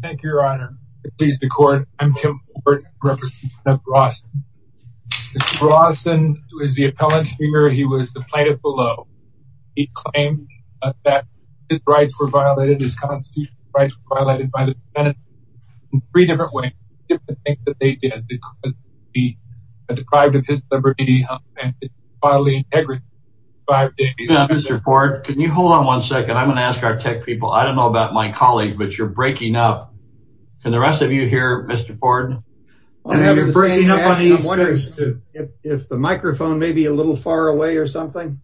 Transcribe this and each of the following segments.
Thank you, Your Honor. It pleases the court. I'm Tim Ford, representative of Rawson. Mr. Rawson was the appellant here. He was the plaintiff below. He claimed that his rights were violated. His constitutional rights were violated by the Senate in three different ways, different things that they did because he was deprived of his liberty and violently integrity for five days. Now, Mr. Ford, can you hold on one second? I'm going to ask our tech people. I don't know about my colleagues, but you're breaking up. Can the rest of you hear Mr. Ford? I'm wondering if the microphone may be a little far away or something.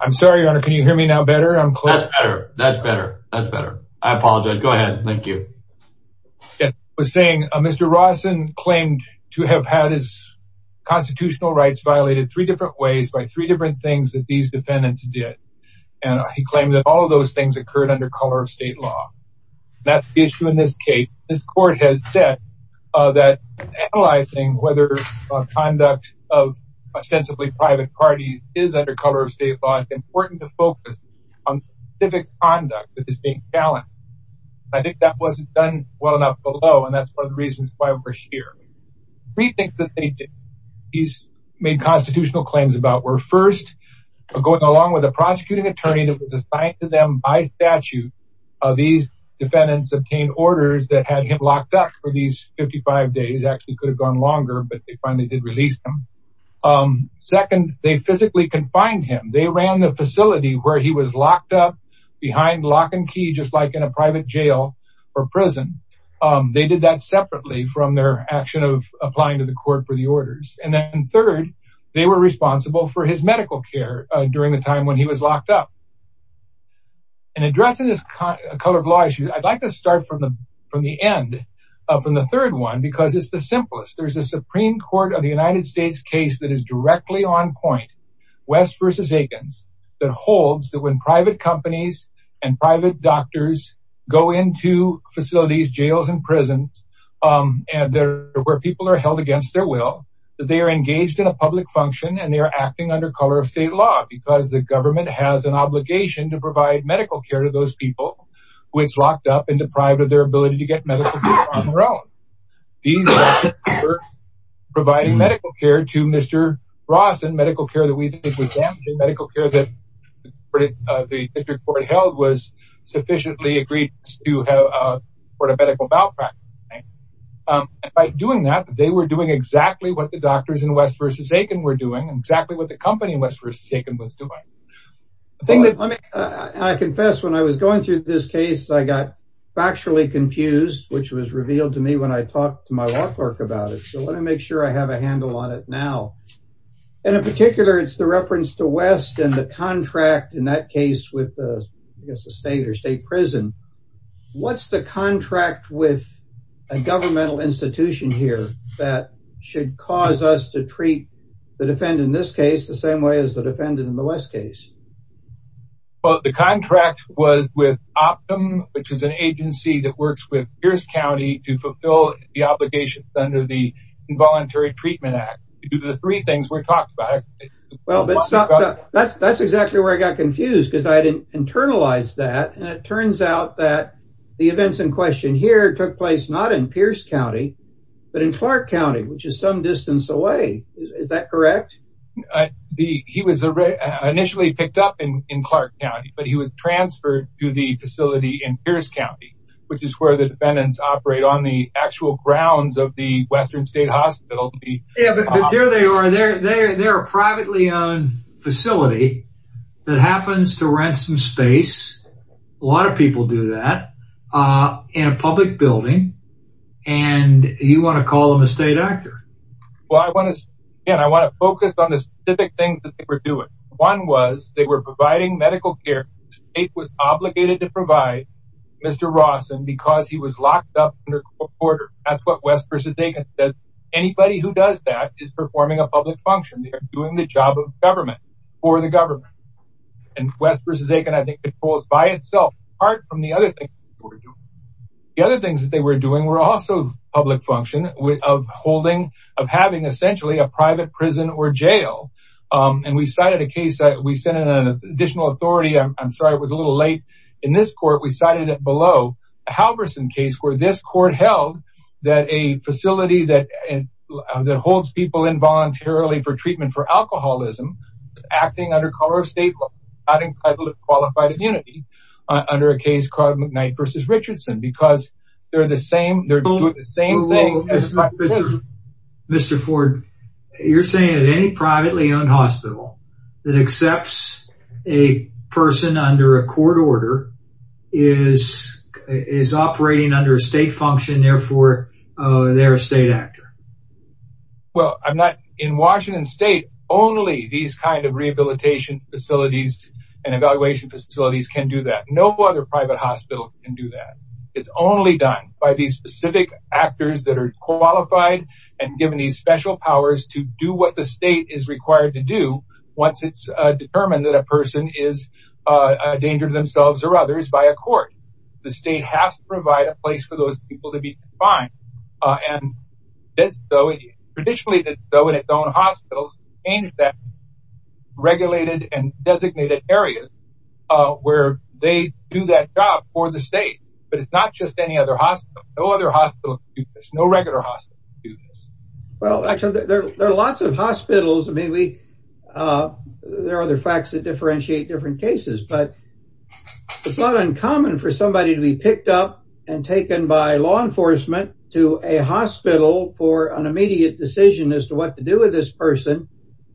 I'm sorry, Your Honor. Can you hear me now better? I'm clear. That's better. That's better. I apologize. Go ahead. Thank you. I was saying Mr. Rawson claimed to have had his constitutional rights violated three different ways by three different things that these defendants did. And he claimed that all of those things occurred under color of state law. That's the issue in this case. This court has said that analyzing whether conduct of ostensibly private parties is under color of state law, it's important to focus on civic conduct that is being challenged. I think that wasn't done well enough below, and that's one of the reasons why we're here. Rethink the thinking he's made constitutional claims about were first, going along with a prosecuting attorney that was assigned to them by statute, these defendants obtained orders that had him locked up for these 55 days, actually could have gone longer, but they finally did release him. Second, they physically confined him. They ran the facility where he was locked up behind lock and key, just like in a private jail or prison. They did that separately from their action of applying to the court for the orders. And then third, they were responsible for his medical care during the time when he was locked up. And addressing this color of law issue, I'd like to start from the end, from the third one, because it's the simplest, there's a Supreme Court of the United States case that is directly on point, West versus Higgins, that holds that when private companies and private doctors go into facilities, jails, and prisons, where people are held against their will, that they are engaged in a public function and they are acting under color of state law, because the government has an obligation to provide medical care to those people who it's locked up and deprived of their ability to get medical care on their own. These doctors were providing medical care to Mr. Bronson, medical care that we think was them, the medical care that the district court held was sufficiently agreed to have a medical malpractice. And by doing that, they were doing exactly what the doctors in West versus Higgins were doing and exactly what the company in West versus Higgins was doing. I confess when I was going through this case, I got factually confused, which was revealed to me when I talked to my law clerk about it. So let me make sure I have a handle on it now. And in particular, it's the reference to West and the contract in that case with, I guess, a state or state prison. What's the contract with a governmental institution here that should cause us to treat the defendant in this case the same way as the defendant in the West case? Well, the contract was with Optum, which is an agency that works with Pierce County to fulfill the obligations under the Involuntary Treatment Act. You do the three things we're talking about. Well, but that's exactly where I got confused because I didn't internalize that, and it turns out that the events in question here took place not in Pierce County, but in Clark County, which is some distance away. Is that correct? He was initially picked up in Clark County, but he was transferred to the facility in Pierce County, which is where the defendants operate on the actual grounds of the Western State Hospital. Yeah, but there they are. They're a privately owned facility that happens to rent some space. A lot of people do that in a public building, and you want to call them a state actor. Well, I want to focus on the specific things that they were doing. One was they were providing medical care. The state was obligated to provide Mr. Rawson because he was locked up under court order. That's what West v. Aitken said. Anybody who does that is performing a public function. They are doing the job of government for the government, and West v. Aitken, I think, controls by itself, apart from the other things that they were doing. The other things that they were doing were also public function of holding, of having essentially a private prison or jail, and we cited a case that we sent in an additional authority. I'm sorry, it was a little late. In this court, we cited below a Halverson case where this court held that a facility that holds people involuntarily for treatment for alcoholism, acting under color of state, not entitled to qualified immunity, under a case called McKnight v. Richardson, because they're doing the same thing. Mr. Ford, you're saying that any privately owned hospital that accepts a person under a court order is operating under a state function. Therefore, they're a state actor. Well, in Washington state, only these kinds of rehabilitation facilities and evaluation facilities can do that. No other private hospital can do that. It's only done by these specific actors that are qualified and given these special powers to do what the state is required to do once it's determined that a person is a danger to themselves or others by a court. The state has to provide a place for those people to be defined. Traditionally, it does so in its own hospitals, in that regulated and designated areas where they do that job for the state, but it's not just any other hospital, no other hospital can do this, no regular hospital can do this. Well, actually, there are lots of hospitals. I mean, there are other facts that differentiate different cases, but it's not uncommon for somebody to be picked up and taken by law enforcement to a hospital for an immediate decision as to what to do with this person.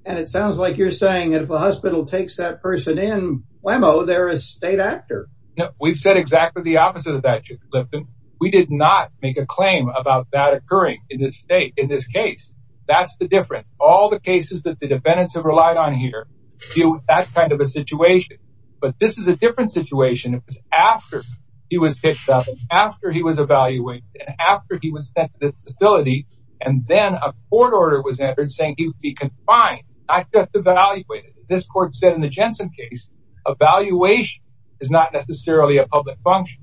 And it sounds like you're saying that if a hospital takes that person in, whammo, they're a state actor. No, we've said exactly the opposite of that, Chief Lipton. We did not make a claim about that occurring in this state, in this case. That's the difference. All the cases that the defendants have relied on here deal with that kind of a situation, it was after he was picked up, after he was evaluated, and after he was sent to the facility, and then a court order was entered saying he would be confined, not just evaluated. This court said in the Jensen case, evaluation is not necessarily a public function,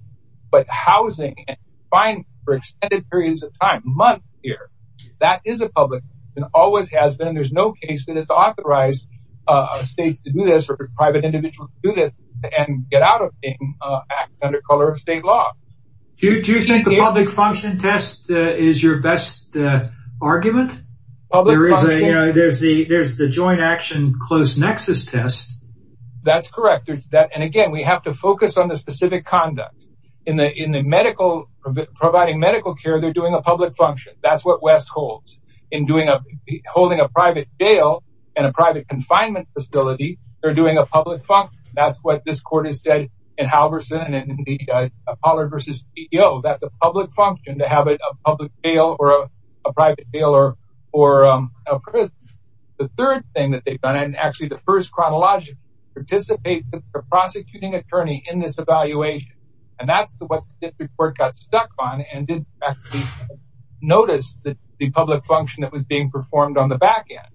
but housing and confinement for extended periods of time, months here, that is a public function, always has been. There's no case that has authorized states to do this or private individuals to do this and get out of the act under color of state law. Do you think the public function test is your best argument? There is a, you know, there's the joint action close nexus test. That's correct. There's that. And again, we have to focus on the specific conduct. In the medical, providing medical care, they're doing a public function. That's what West holds. In doing a, holding a private jail and a private confinement facility, they're doing a public function. That's what this court has said in Halverson and in the Apollo versus CEO. That's a public function to have a public jail or a private jail or a prison. The third thing that they've done, and actually the first chronological, participate with the prosecuting attorney in this evaluation. And that's what the district court got stuck on and didn't actually notice the public function that was being performed on the back end.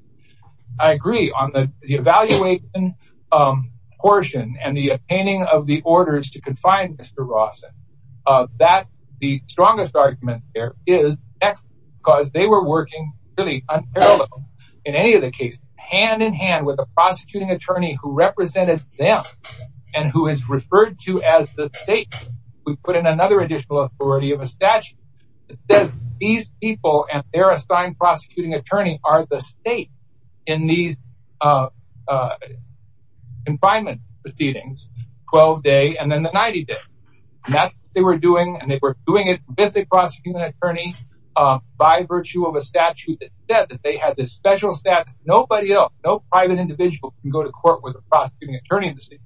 I agree on the evaluation portion and the obtaining of the orders to confine Mr. Rawson, that the strongest argument there is Texas, because they were working really unparalleled in any of the cases, hand in hand with a prosecuting attorney who represented them and who is referred to as the state. We put in another additional authority of a statute that says these people and their assigned prosecuting attorney are the state in these confinement proceedings, 12 day and then the 90 day. And that's what they were doing. And they were doing it with the prosecuting attorney by virtue of a statute that said that they had this special staff, nobody else, no private individual can go to court with a prosecuting attorney in the state.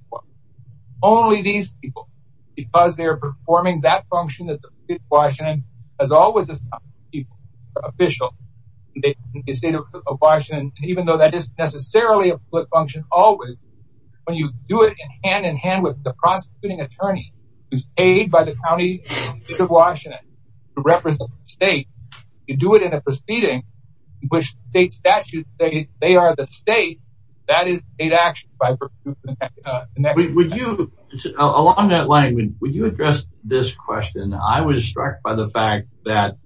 Only these people, because they're performing that function that the state of Washington, even though that isn't necessarily a public function, always when you do it in hand in hand with the prosecuting attorney who's paid by the county of Washington to represent the state, you do it in a proceeding which state statutes say they are the state that is in state action. Along that line, would you address this question? I was struck by the fact that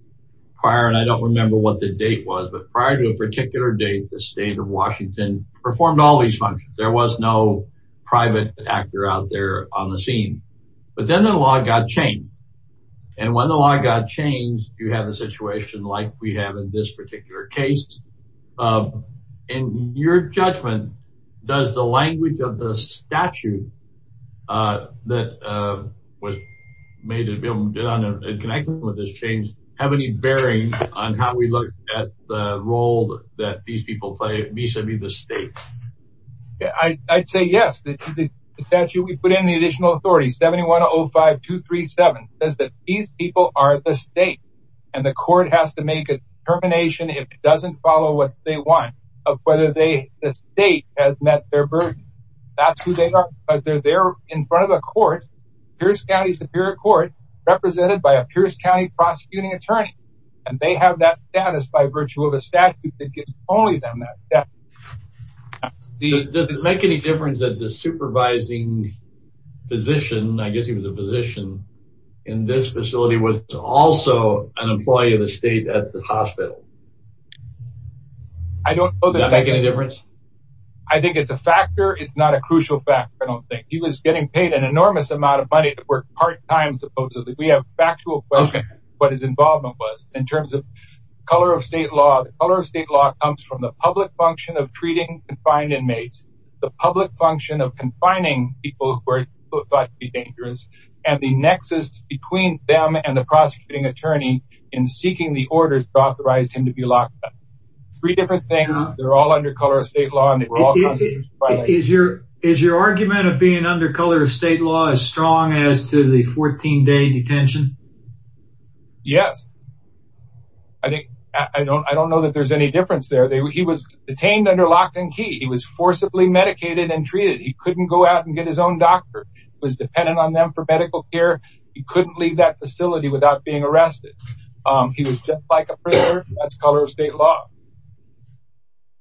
prior, and I don't remember what the date was, but prior to a particular date, the state of Washington performed all these functions, there was no private actor out there on the scene, but then the law got changed and when the law got changed, you have a situation like we have in this particular case and your judgment does the language of the statute that was made connecting with this change have any bearing on how we look at the role that these people play vis-a-vis the state? Yeah, I'd say yes. The statute we put in the additional authority 7105237 says that these people are the state and the court has to make a determination if it doesn't follow what they want of whether the state has met their burden. That's who they are because they're there in front of the court. Pierce County Superior Court represented by a Pierce County prosecuting attorney and they have that status by virtue of a statute that gives only them that. Does it make any difference that the supervising physician, I guess he was a physician in this facility, was also an employee of the state at the hospital? I don't know. Does that make any difference? I think it's a factor. It's not a crucial factor. He was getting paid an enormous amount of money to work part-time supposedly. We have factual questions as to what his involvement was in terms of color of state law. The color of state law comes from the public function of treating confined inmates, the public function of confining people who are thought to be dangerous, and the nexus between them and the prosecuting attorney in seeking the orders to authorize him to be locked up. Three different things. They're all under color of state law. Is your argument of being under color of state law as strong as to the 14-day detention? Yes. I don't know that there's any difference there. He was detained under locked and key. He was forcibly medicated and treated. He couldn't go out and get his own doctor. He was dependent on them for medical care. He couldn't leave that facility without being arrested. He was just like a prisoner. That's color of state law.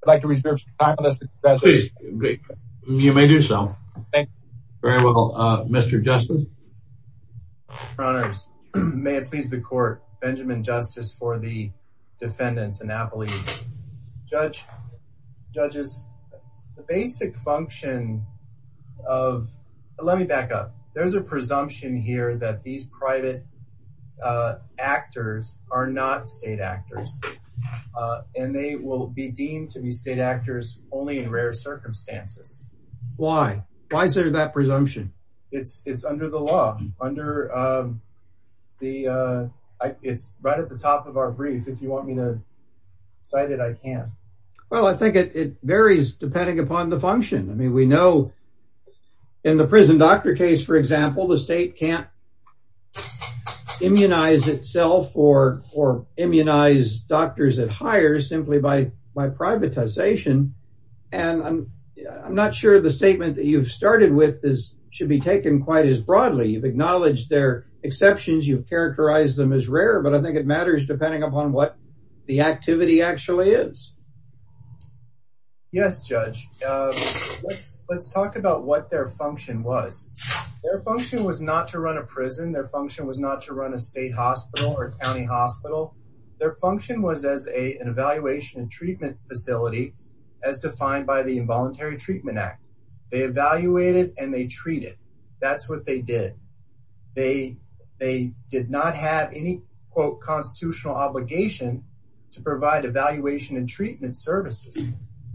I'd like to reserve some time for this discussion. Please. You may do so. Thank you. Very well. Mr. Justice? Your Honors, may it please the court, Benjamin Justice for the defendants and appellees. Judge, judges, the basic function of, let me back up. There's a presumption here that these private actors are not state actors. And they will be deemed to be state actors only in rare circumstances. Why? Why is there that presumption? It's under the law. Under the, it's right at the top of our brief. If you want me to cite it, I can. Well, I think it varies depending upon the function. I mean, we know in the prison doctor case, for example, the state can't immunize itself or immunize doctors at higher simply by privatization. And I'm not sure the statement that you've started with should be taken quite as broadly. You've acknowledged their exceptions. You've characterized them as rare, but I think it matters depending upon what the activity actually is. Yes, Judge. Let's talk about what their function was. Their function was not to run a prison. Their function was not to run a state hospital or county hospital. Their function was as an evaluation and treatment facility as defined by the Involuntary Treatment Act. They evaluated and they treated. That's what they did. They did not have any quote constitutional obligation to provide evaluation and treatment services.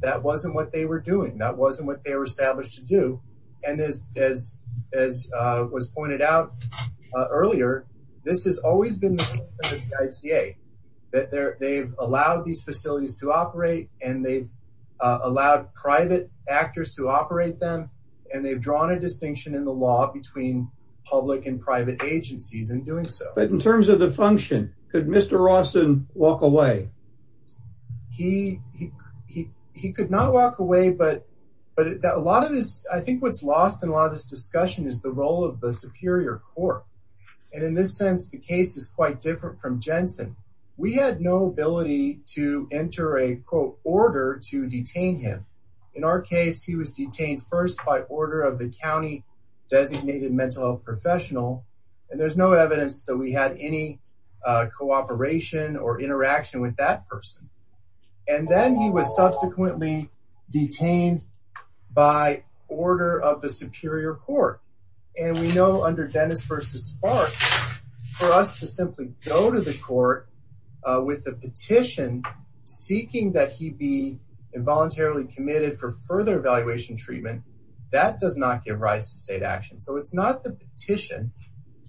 That wasn't what they were doing. That wasn't what they were established to do. And as was pointed out earlier, this has always been the case that they've allowed these facilities to operate and they've allowed private actors to operate them and they've drawn a distinction in the law between public and private agencies in doing so. But in terms of the function, could Mr. Rawson walk away? He could not walk away, but a lot of this, I think what's lost in a lot of this discussion is the role of the superior court. And in this sense, the case is quite different from Jensen. We had no ability to enter a quote order to detain him. In our case, he was detained first by order of the county designated mental health professional. And there's no evidence that we had any cooperation or interaction with that person. And then he was subsequently detained by order of the superior court. And we know under Dennis versus Spark, for us to simply go to the court with a petition seeking that he be involuntarily committed for further evaluation treatment, that does not give rise to state action. So it's not the petition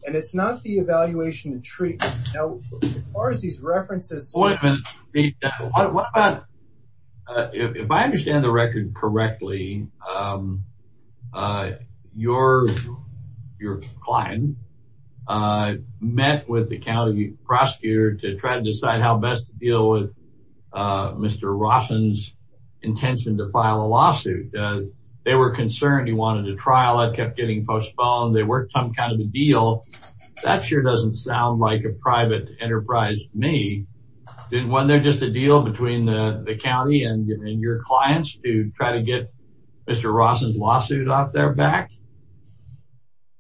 and it's not the evaluation of treatment. Now, as far as these references... Wait a minute, if I understand the record correctly, your client met with the county prosecutor to try to decide how best to deal with Mr. Rawson's intention to file a lawsuit. They were concerned he wanted a trial. It kept getting postponed. They worked some kind of a deal. That sure doesn't sound like a private enterprise to me. Didn't one there just a deal between the county and your clients to try to get Mr. Rawson's lawsuit out there back?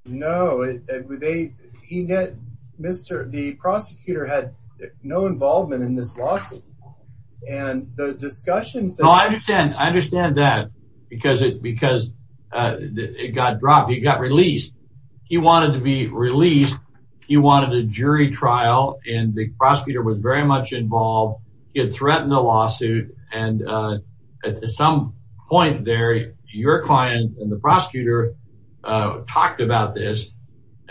No, the prosecutor had no involvement in this lawsuit. And the discussions... No, I understand. I understand that because it got dropped. He got released. He wanted to be released. He wanted a jury trial and the prosecutor was very much involved. He had threatened the lawsuit. And at some point there, your client and the prosecutor talked about this,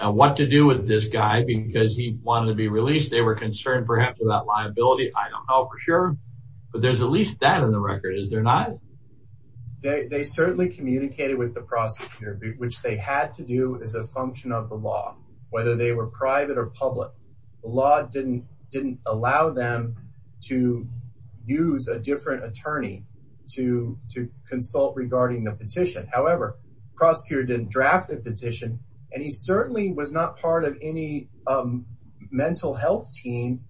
what to do with this guy because he wanted to be released. They were concerned perhaps about liability. I don't know for sure, but there's at least that in the record. Is there not? They certainly communicated with the prosecutor, which they had to do as a function of the law, whether they were private or public, the law didn't allow them to use a different attorney to consult regarding the petition. However, prosecutor didn't draft the petition and he certainly was not part of any mental health team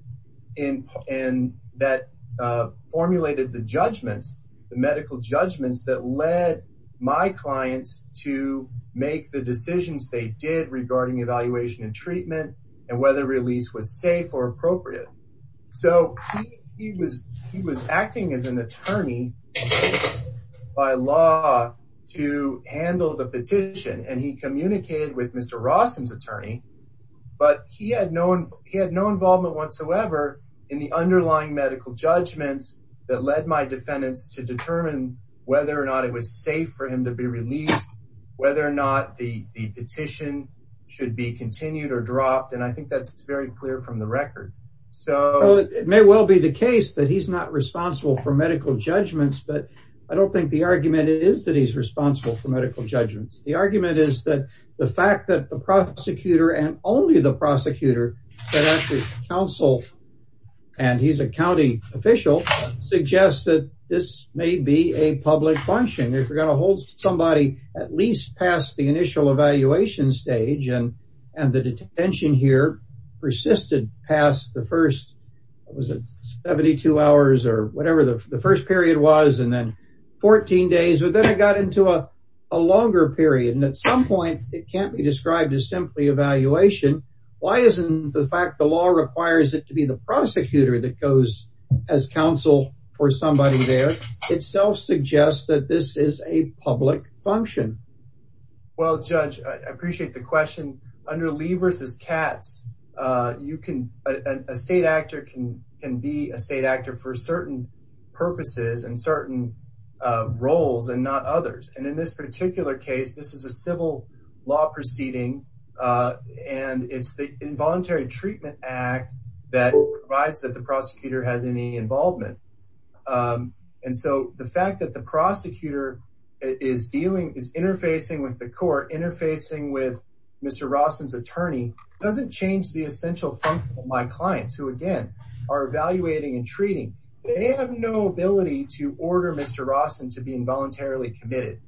that formulated the judgments, the medical judgments that led my clients to make the decisions they did regarding evaluation and treatment and whether release was safe or appropriate. So he was acting as an attorney by law to handle the petition. And he communicated with Mr. Rawson's attorney, but he had no, he had no involvement whatsoever in the underlying medical judgments that led my defendants to determine whether or not it was safe for him to be released, whether or not the petition should be continued or dropped, and I think that's very clear from the record. So it may well be the case that he's not responsible for medical judgments, but I don't think the argument is that he's responsible for medical judgments. The argument is that the fact that the prosecutor and only the prosecutor, that actually counsel, and he's a county official, suggests that this may be a public function, if you're going to hold somebody at least past the initial evaluation stage and the detention here persisted past the first, what was it? 72 hours or whatever the first period was, and then 14 days, but then it got into a longer period, and at some point, it can't be described as simply evaluation, why isn't the fact the law requires it to be the prosecutor that goes as counsel for somebody there itself suggests that this is a public function? Well, judge, I appreciate the question. Under Lee versus Katz, a state actor can be a state actor for certain purposes and certain roles and not others. And in this particular case, this is a civil law proceeding, and it's the Involuntary Treatment Act that provides that the prosecutor has any involvement, and so the fact that the prosecutor is interfacing with the court, interfacing with Mr. Rawson's attorney, doesn't change the essential function of my clients, who again, are evaluating and treating. They have no ability to order Mr. Rawson to be involuntarily committed.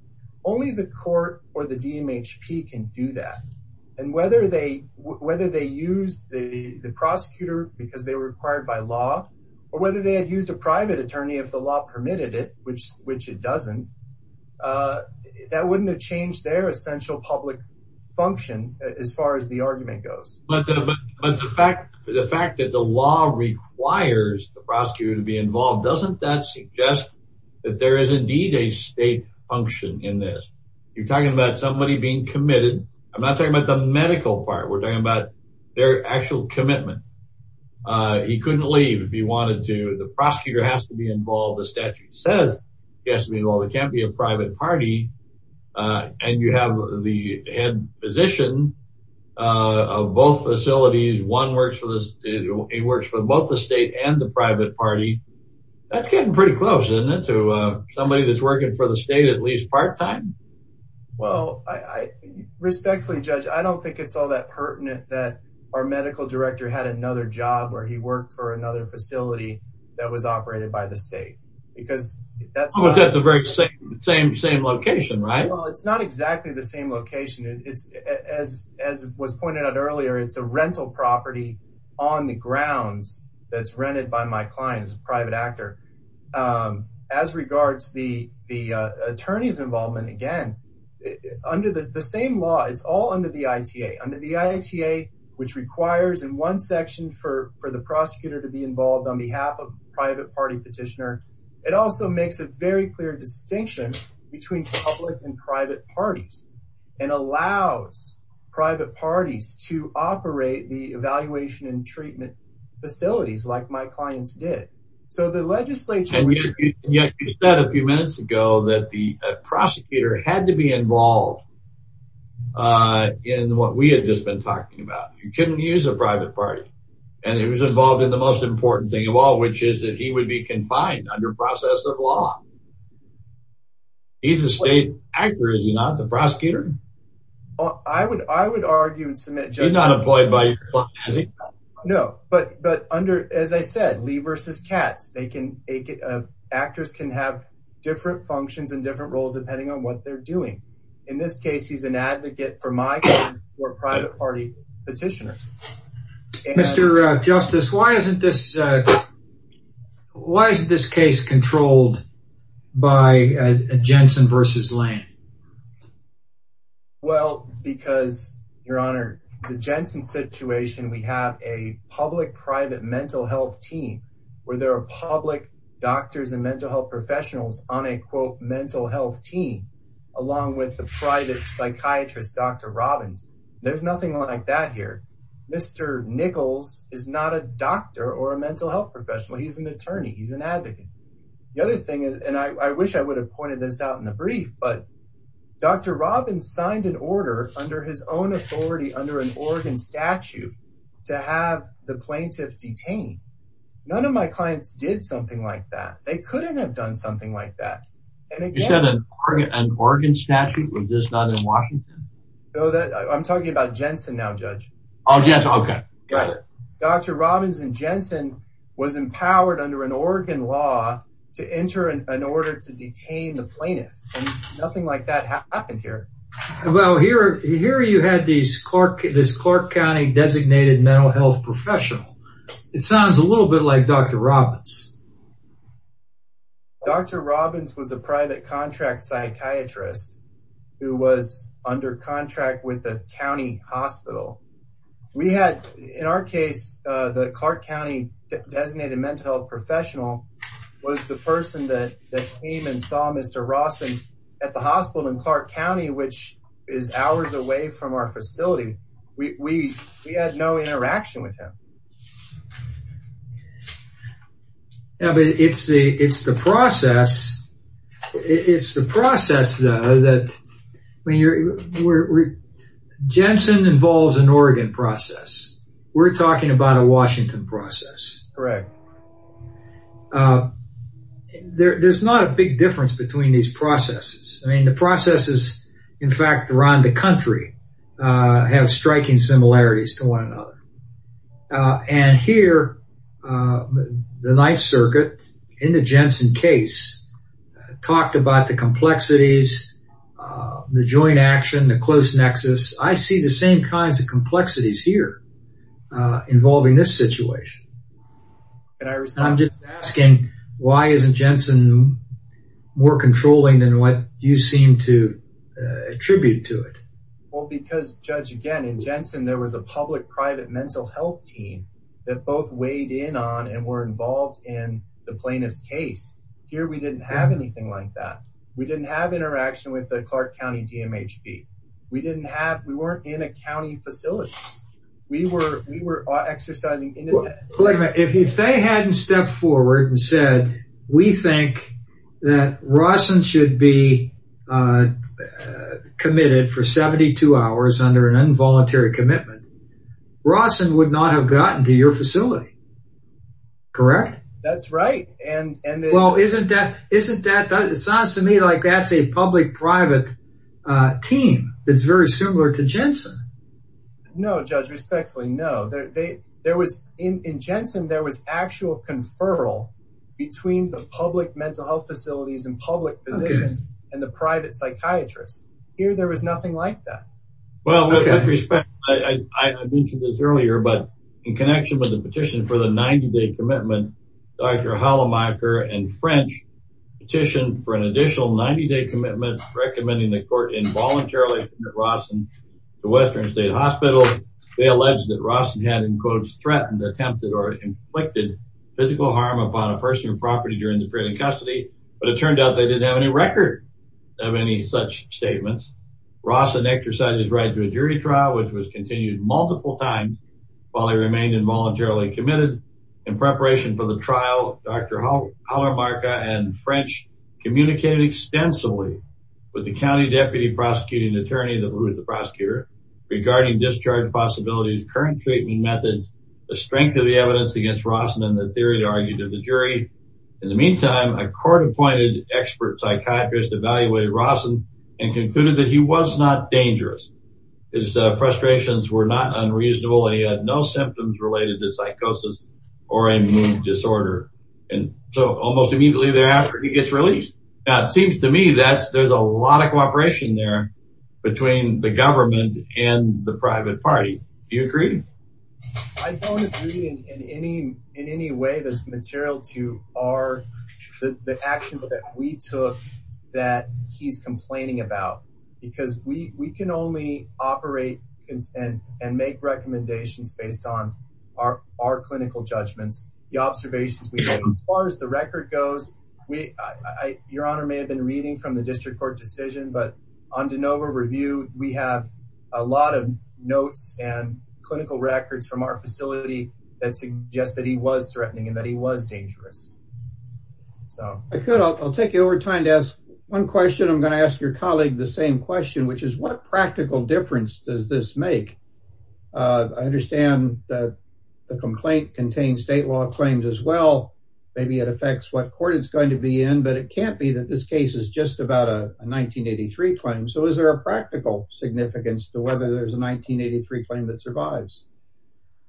Only the court or the DMHP can do that. And whether they use the prosecutor because they were required by law, or whether they had used a private attorney if the law permitted it, which it doesn't, that wouldn't have changed their essential public function as far as the argument goes. But the fact that the law requires the prosecutor to be involved, doesn't that suggest that there is indeed a state function in this? You're talking about somebody being committed. I'm not talking about the medical part. We're talking about their actual commitment. He couldn't leave if he wanted to. The prosecutor has to be involved. The statute says he has to be involved. It can't be a private party. And you have the head physician of both facilities. One works for both the state and the private party. That's getting pretty close, isn't it, to somebody that's working for the state at least part-time? Well, respectfully, Judge, I don't think it's all that pertinent that our medical director had another job where he worked for another facility that was operated by the state, because that's- It's almost at the very same location, right? Well, it's not exactly the same location. As was pointed out earlier, it's a rental property on the grounds that's rented by my client as a private actor. As regards the attorney's involvement, again, under the same law, it's all under the ITA. Under the ITA, which requires in one section for the prosecutor to be involved on He also makes a very clear distinction between public and private parties and allows private parties to operate the evaluation and treatment facilities like my clients did. So the legislature- And yet you said a few minutes ago that the prosecutor had to be involved in what we had just been talking about. You couldn't use a private party. And he was involved in the most important thing of all, which is that he would be a part of the process of law. He's a state actor, is he not? The prosecutor? I would argue and submit- You're not employed by your client, are you? No, but as I said, Lee versus Katz, actors can have different functions and different roles depending on what they're doing. In this case, he's an advocate for my clients who are private party petitioners. Mr. Justice, why isn't this case controlled by Jensen versus Lane? Well, because, Your Honor, the Jensen situation, we have a public-private mental health team where there are public doctors and mental health professionals on a mental health team, along with the private psychiatrist, Dr. Robbins. There's nothing like that here. Mr. Nichols is not a doctor or a mental health professional. He's an attorney. He's an advocate. The other thing, and I wish I would have pointed this out in the brief, but Dr. Robbins signed an order under his own authority under an Oregon statute to have the plaintiff detained. None of my clients did something like that. They couldn't have done something like that. You said an Oregon statute was just not in Washington? I'm talking about Jensen now, Judge. Oh, yes. OK, got it. Dr. Robbins and Jensen was empowered under an Oregon law to enter an order to detain the plaintiff, and nothing like that happened here. Well, here you had this Clark County designated mental health professional. It sounds a little bit like Dr. Robbins. Dr. Robbins was a private contract psychiatrist who was under contract with the county hospital. In our case, the Clark County designated mental health professional was the person that came and saw Mr. Ross at the hospital in Clark County, which is hours away from our facility. We had no interaction with him. It's the process, though, that Jensen involves an Oregon process, we're talking about a Washington process, correct? There's not a big difference between these processes. I mean, the processes, in fact, around the country have striking similarities to one another. And here, the Ninth Circuit, in the Jensen case, talked about the complexities, the joint action, the close nexus. I see the same kinds of complexities here involving this situation. And I'm just asking, why isn't Jensen more controlling than what you seem to attribute to it? Well, because, Judge, again, in Jensen, there was a public-private mental health team that both weighed in on and were involved in the plaintiff's case. Here, we didn't have anything like that. We didn't have interaction with the Clark County DMHB. We didn't have, we weren't in a county facility. We were exercising independent. If they hadn't stepped forward and said, we think that Rawson should be committed for 72 hours under an involuntary commitment, Rawson would not have gotten to your facility. Correct? That's right. And, well, isn't that, it sounds to me like that's a public-private team that's very similar to Jensen. No, Judge, respectfully, no. There was, in Jensen, there was actual conferral between the public mental health facilities and public physicians and the private psychiatrists. Here, there was nothing like that. Well, with that respect, I mentioned this earlier, but in connection with the petition for the 90-day commitment, Dr. Hollemaier and French petitioned for an additional 90-day commitment, recommending the court involuntarily commit Rawson to Western State Hospital. They alleged that Rawson had, in quotes, threatened, attempted, or inflicted physical harm upon a person or property during the period of custody, but it turned out they didn't have any record of any such statements. Rawson exercised his right to a jury trial, which was continued multiple times while he remained involuntarily committed. In preparation for the trial, Dr. Hollemaier and French communicated extensively with the county deputy prosecuting attorney, who is the prosecutor, regarding discharge possibilities, current treatment methods, the strength of the evidence against Rawson, and the theory they argued to the jury. In the meantime, a court-appointed expert psychiatrist evaluated Rawson and concluded that he was not dangerous. His frustrations were not unreasonable, and he had no symptoms related to psychosis or a mood disorder. And so almost immediately thereafter, he gets released. Now, it seems to me that there's a lot of cooperation there between the government and the private party. Do you agree? I don't agree in any way that's material to the actions that we took that he's complaining about, because we can only operate and make recommendations based on our clinical judgments. The observations we have, as far as the record goes, Your Honor may have been reading from the district court decision, but on DeNova Review, we have a lot of notes and clinical records from our facility that suggest that he was threatening and that he was dangerous. I could. I'll take your time to ask one question. I'm going to ask your colleague the same question, which is what practical difference does this make? I understand that the complaint contains state law claims as well. Maybe it affects what court it's going to be in, but it can't be that this case is just about a 1983 claim. So is there a practical significance to whether there's a 1983 claim that survives?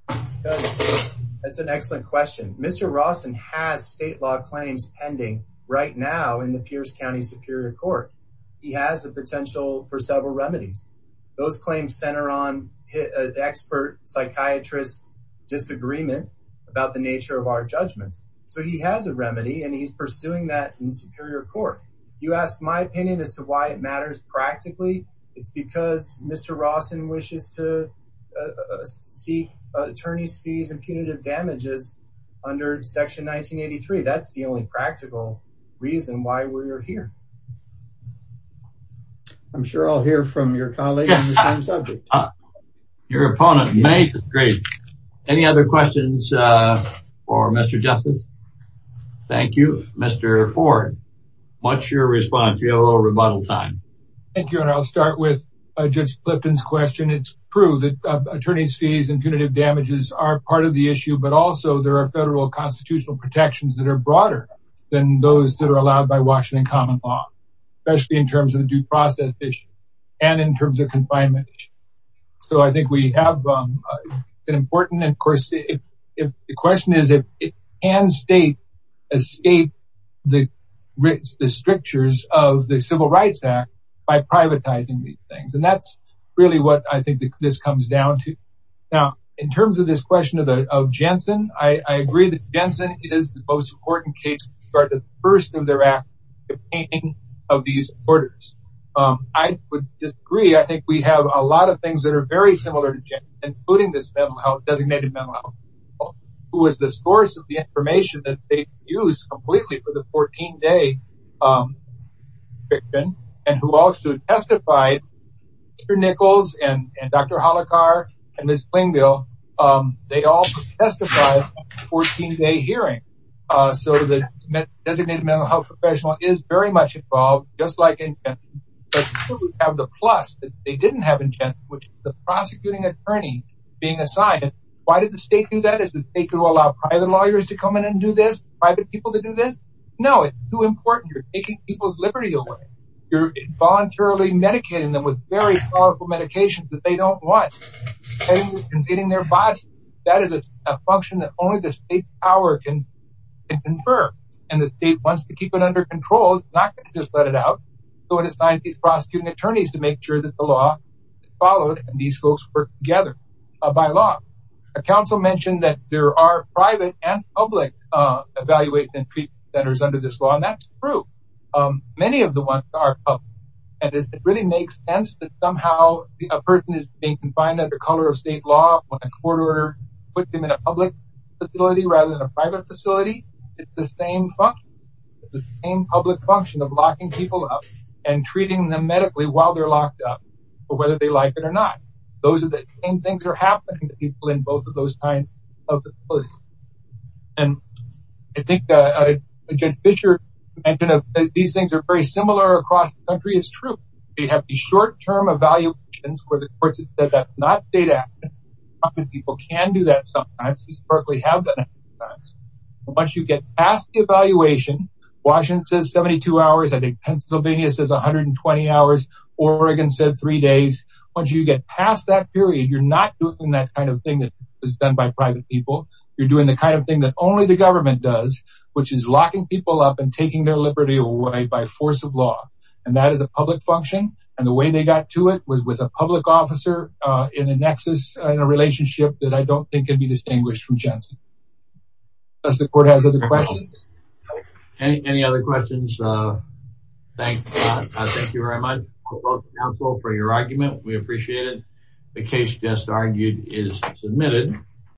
That's an excellent question. Mr. Rawson has state law claims pending right now in the Pierce County Superior Court. He has the potential for several remedies. Those claims center on expert psychiatrist disagreement about the nature of our judgments. So he has a remedy and he's pursuing that in Superior Court. You ask my opinion as to why it matters practically. It's because Mr. Rawson wishes to seek attorney's fees and punitive damages under Section 1983. That's the only practical reason why we're here. I'm sure I'll hear from your colleague on the same subject. Your opponent may. Great. Any other questions for Mr. Justice? Thank you. Mr. Ford, what's your response? You have a little rebuttal time. Thank you. And I'll start with Judge Clifton's question. It's true that attorney's fees and punitive damages are part of the issue, but also there are federal constitutional protections that are broader than those that are allowed by Washington common law, especially in terms of due process issues and in terms of confinement. So I think we have an important, of course, if the question is if it can state the strictures of the Civil Rights Act by privatizing these things. And that's really what I think this comes down to. Now, in terms of this question of Jensen, I agree that Jensen is the most important case for the first of their act containing of these orders. I would disagree. I think we have a lot of things that are very similar to Jensen, including this designated mental health, who was the source of the information that they used completely for the 14-day conviction and who also testified, Mr. Nichols and Dr. Holacar and Ms. Clingville, they all testified at the 14-day hearing. So the designated mental health professional is very much involved, just like in Jensen. But people who have the plus that they didn't have in Jensen, which is the prosecuting attorney being assigned. Why did the state do that? Is the state going to allow private lawyers to come in and do this? Private people to do this? No, it's too important. You're taking people's liberty away. You're voluntarily medicating them with very powerful medications that they don't want and getting their bodies. That is a function that only the state power can confer and the state wants to keep it under control, not just let it out. So it assigned these prosecuting attorneys to make sure that the law is followed and these folks work together by law. A council mentioned that there are private and public evaluation centers under this law, and that's true. Many of the ones are public and it really makes sense that somehow a person can find that the color of state law, when a court order puts them in a public facility rather than a private facility, it's the same function, the same public function of locking people up and treating them medically while they're locked up, whether they like it or not. Those are the same things that are happening to people in both of those kinds of facilities. And I think Jen Fisher mentioned that these things are very similar across the country. It's true. We have these short term evaluations where the courts have said that's not state action. And people can do that sometimes, at least Berkeley have done it sometimes. Once you get past the evaluation, Washington says 72 hours, I think Pennsylvania says 120 hours, Oregon said three days. Once you get past that period, you're not doing that kind of thing that is done by private people. You're doing the kind of thing that only the government does, which is locking people up and taking their liberty away by force of law. And that is a public function. And the way they got to it was with a public officer in a nexus, in a relationship that I don't think can be distinguished from Jen's. Unless the court has other questions. Any other questions? Thank you very much, counsel, for your argument. We appreciate it. The case just argued is submitted.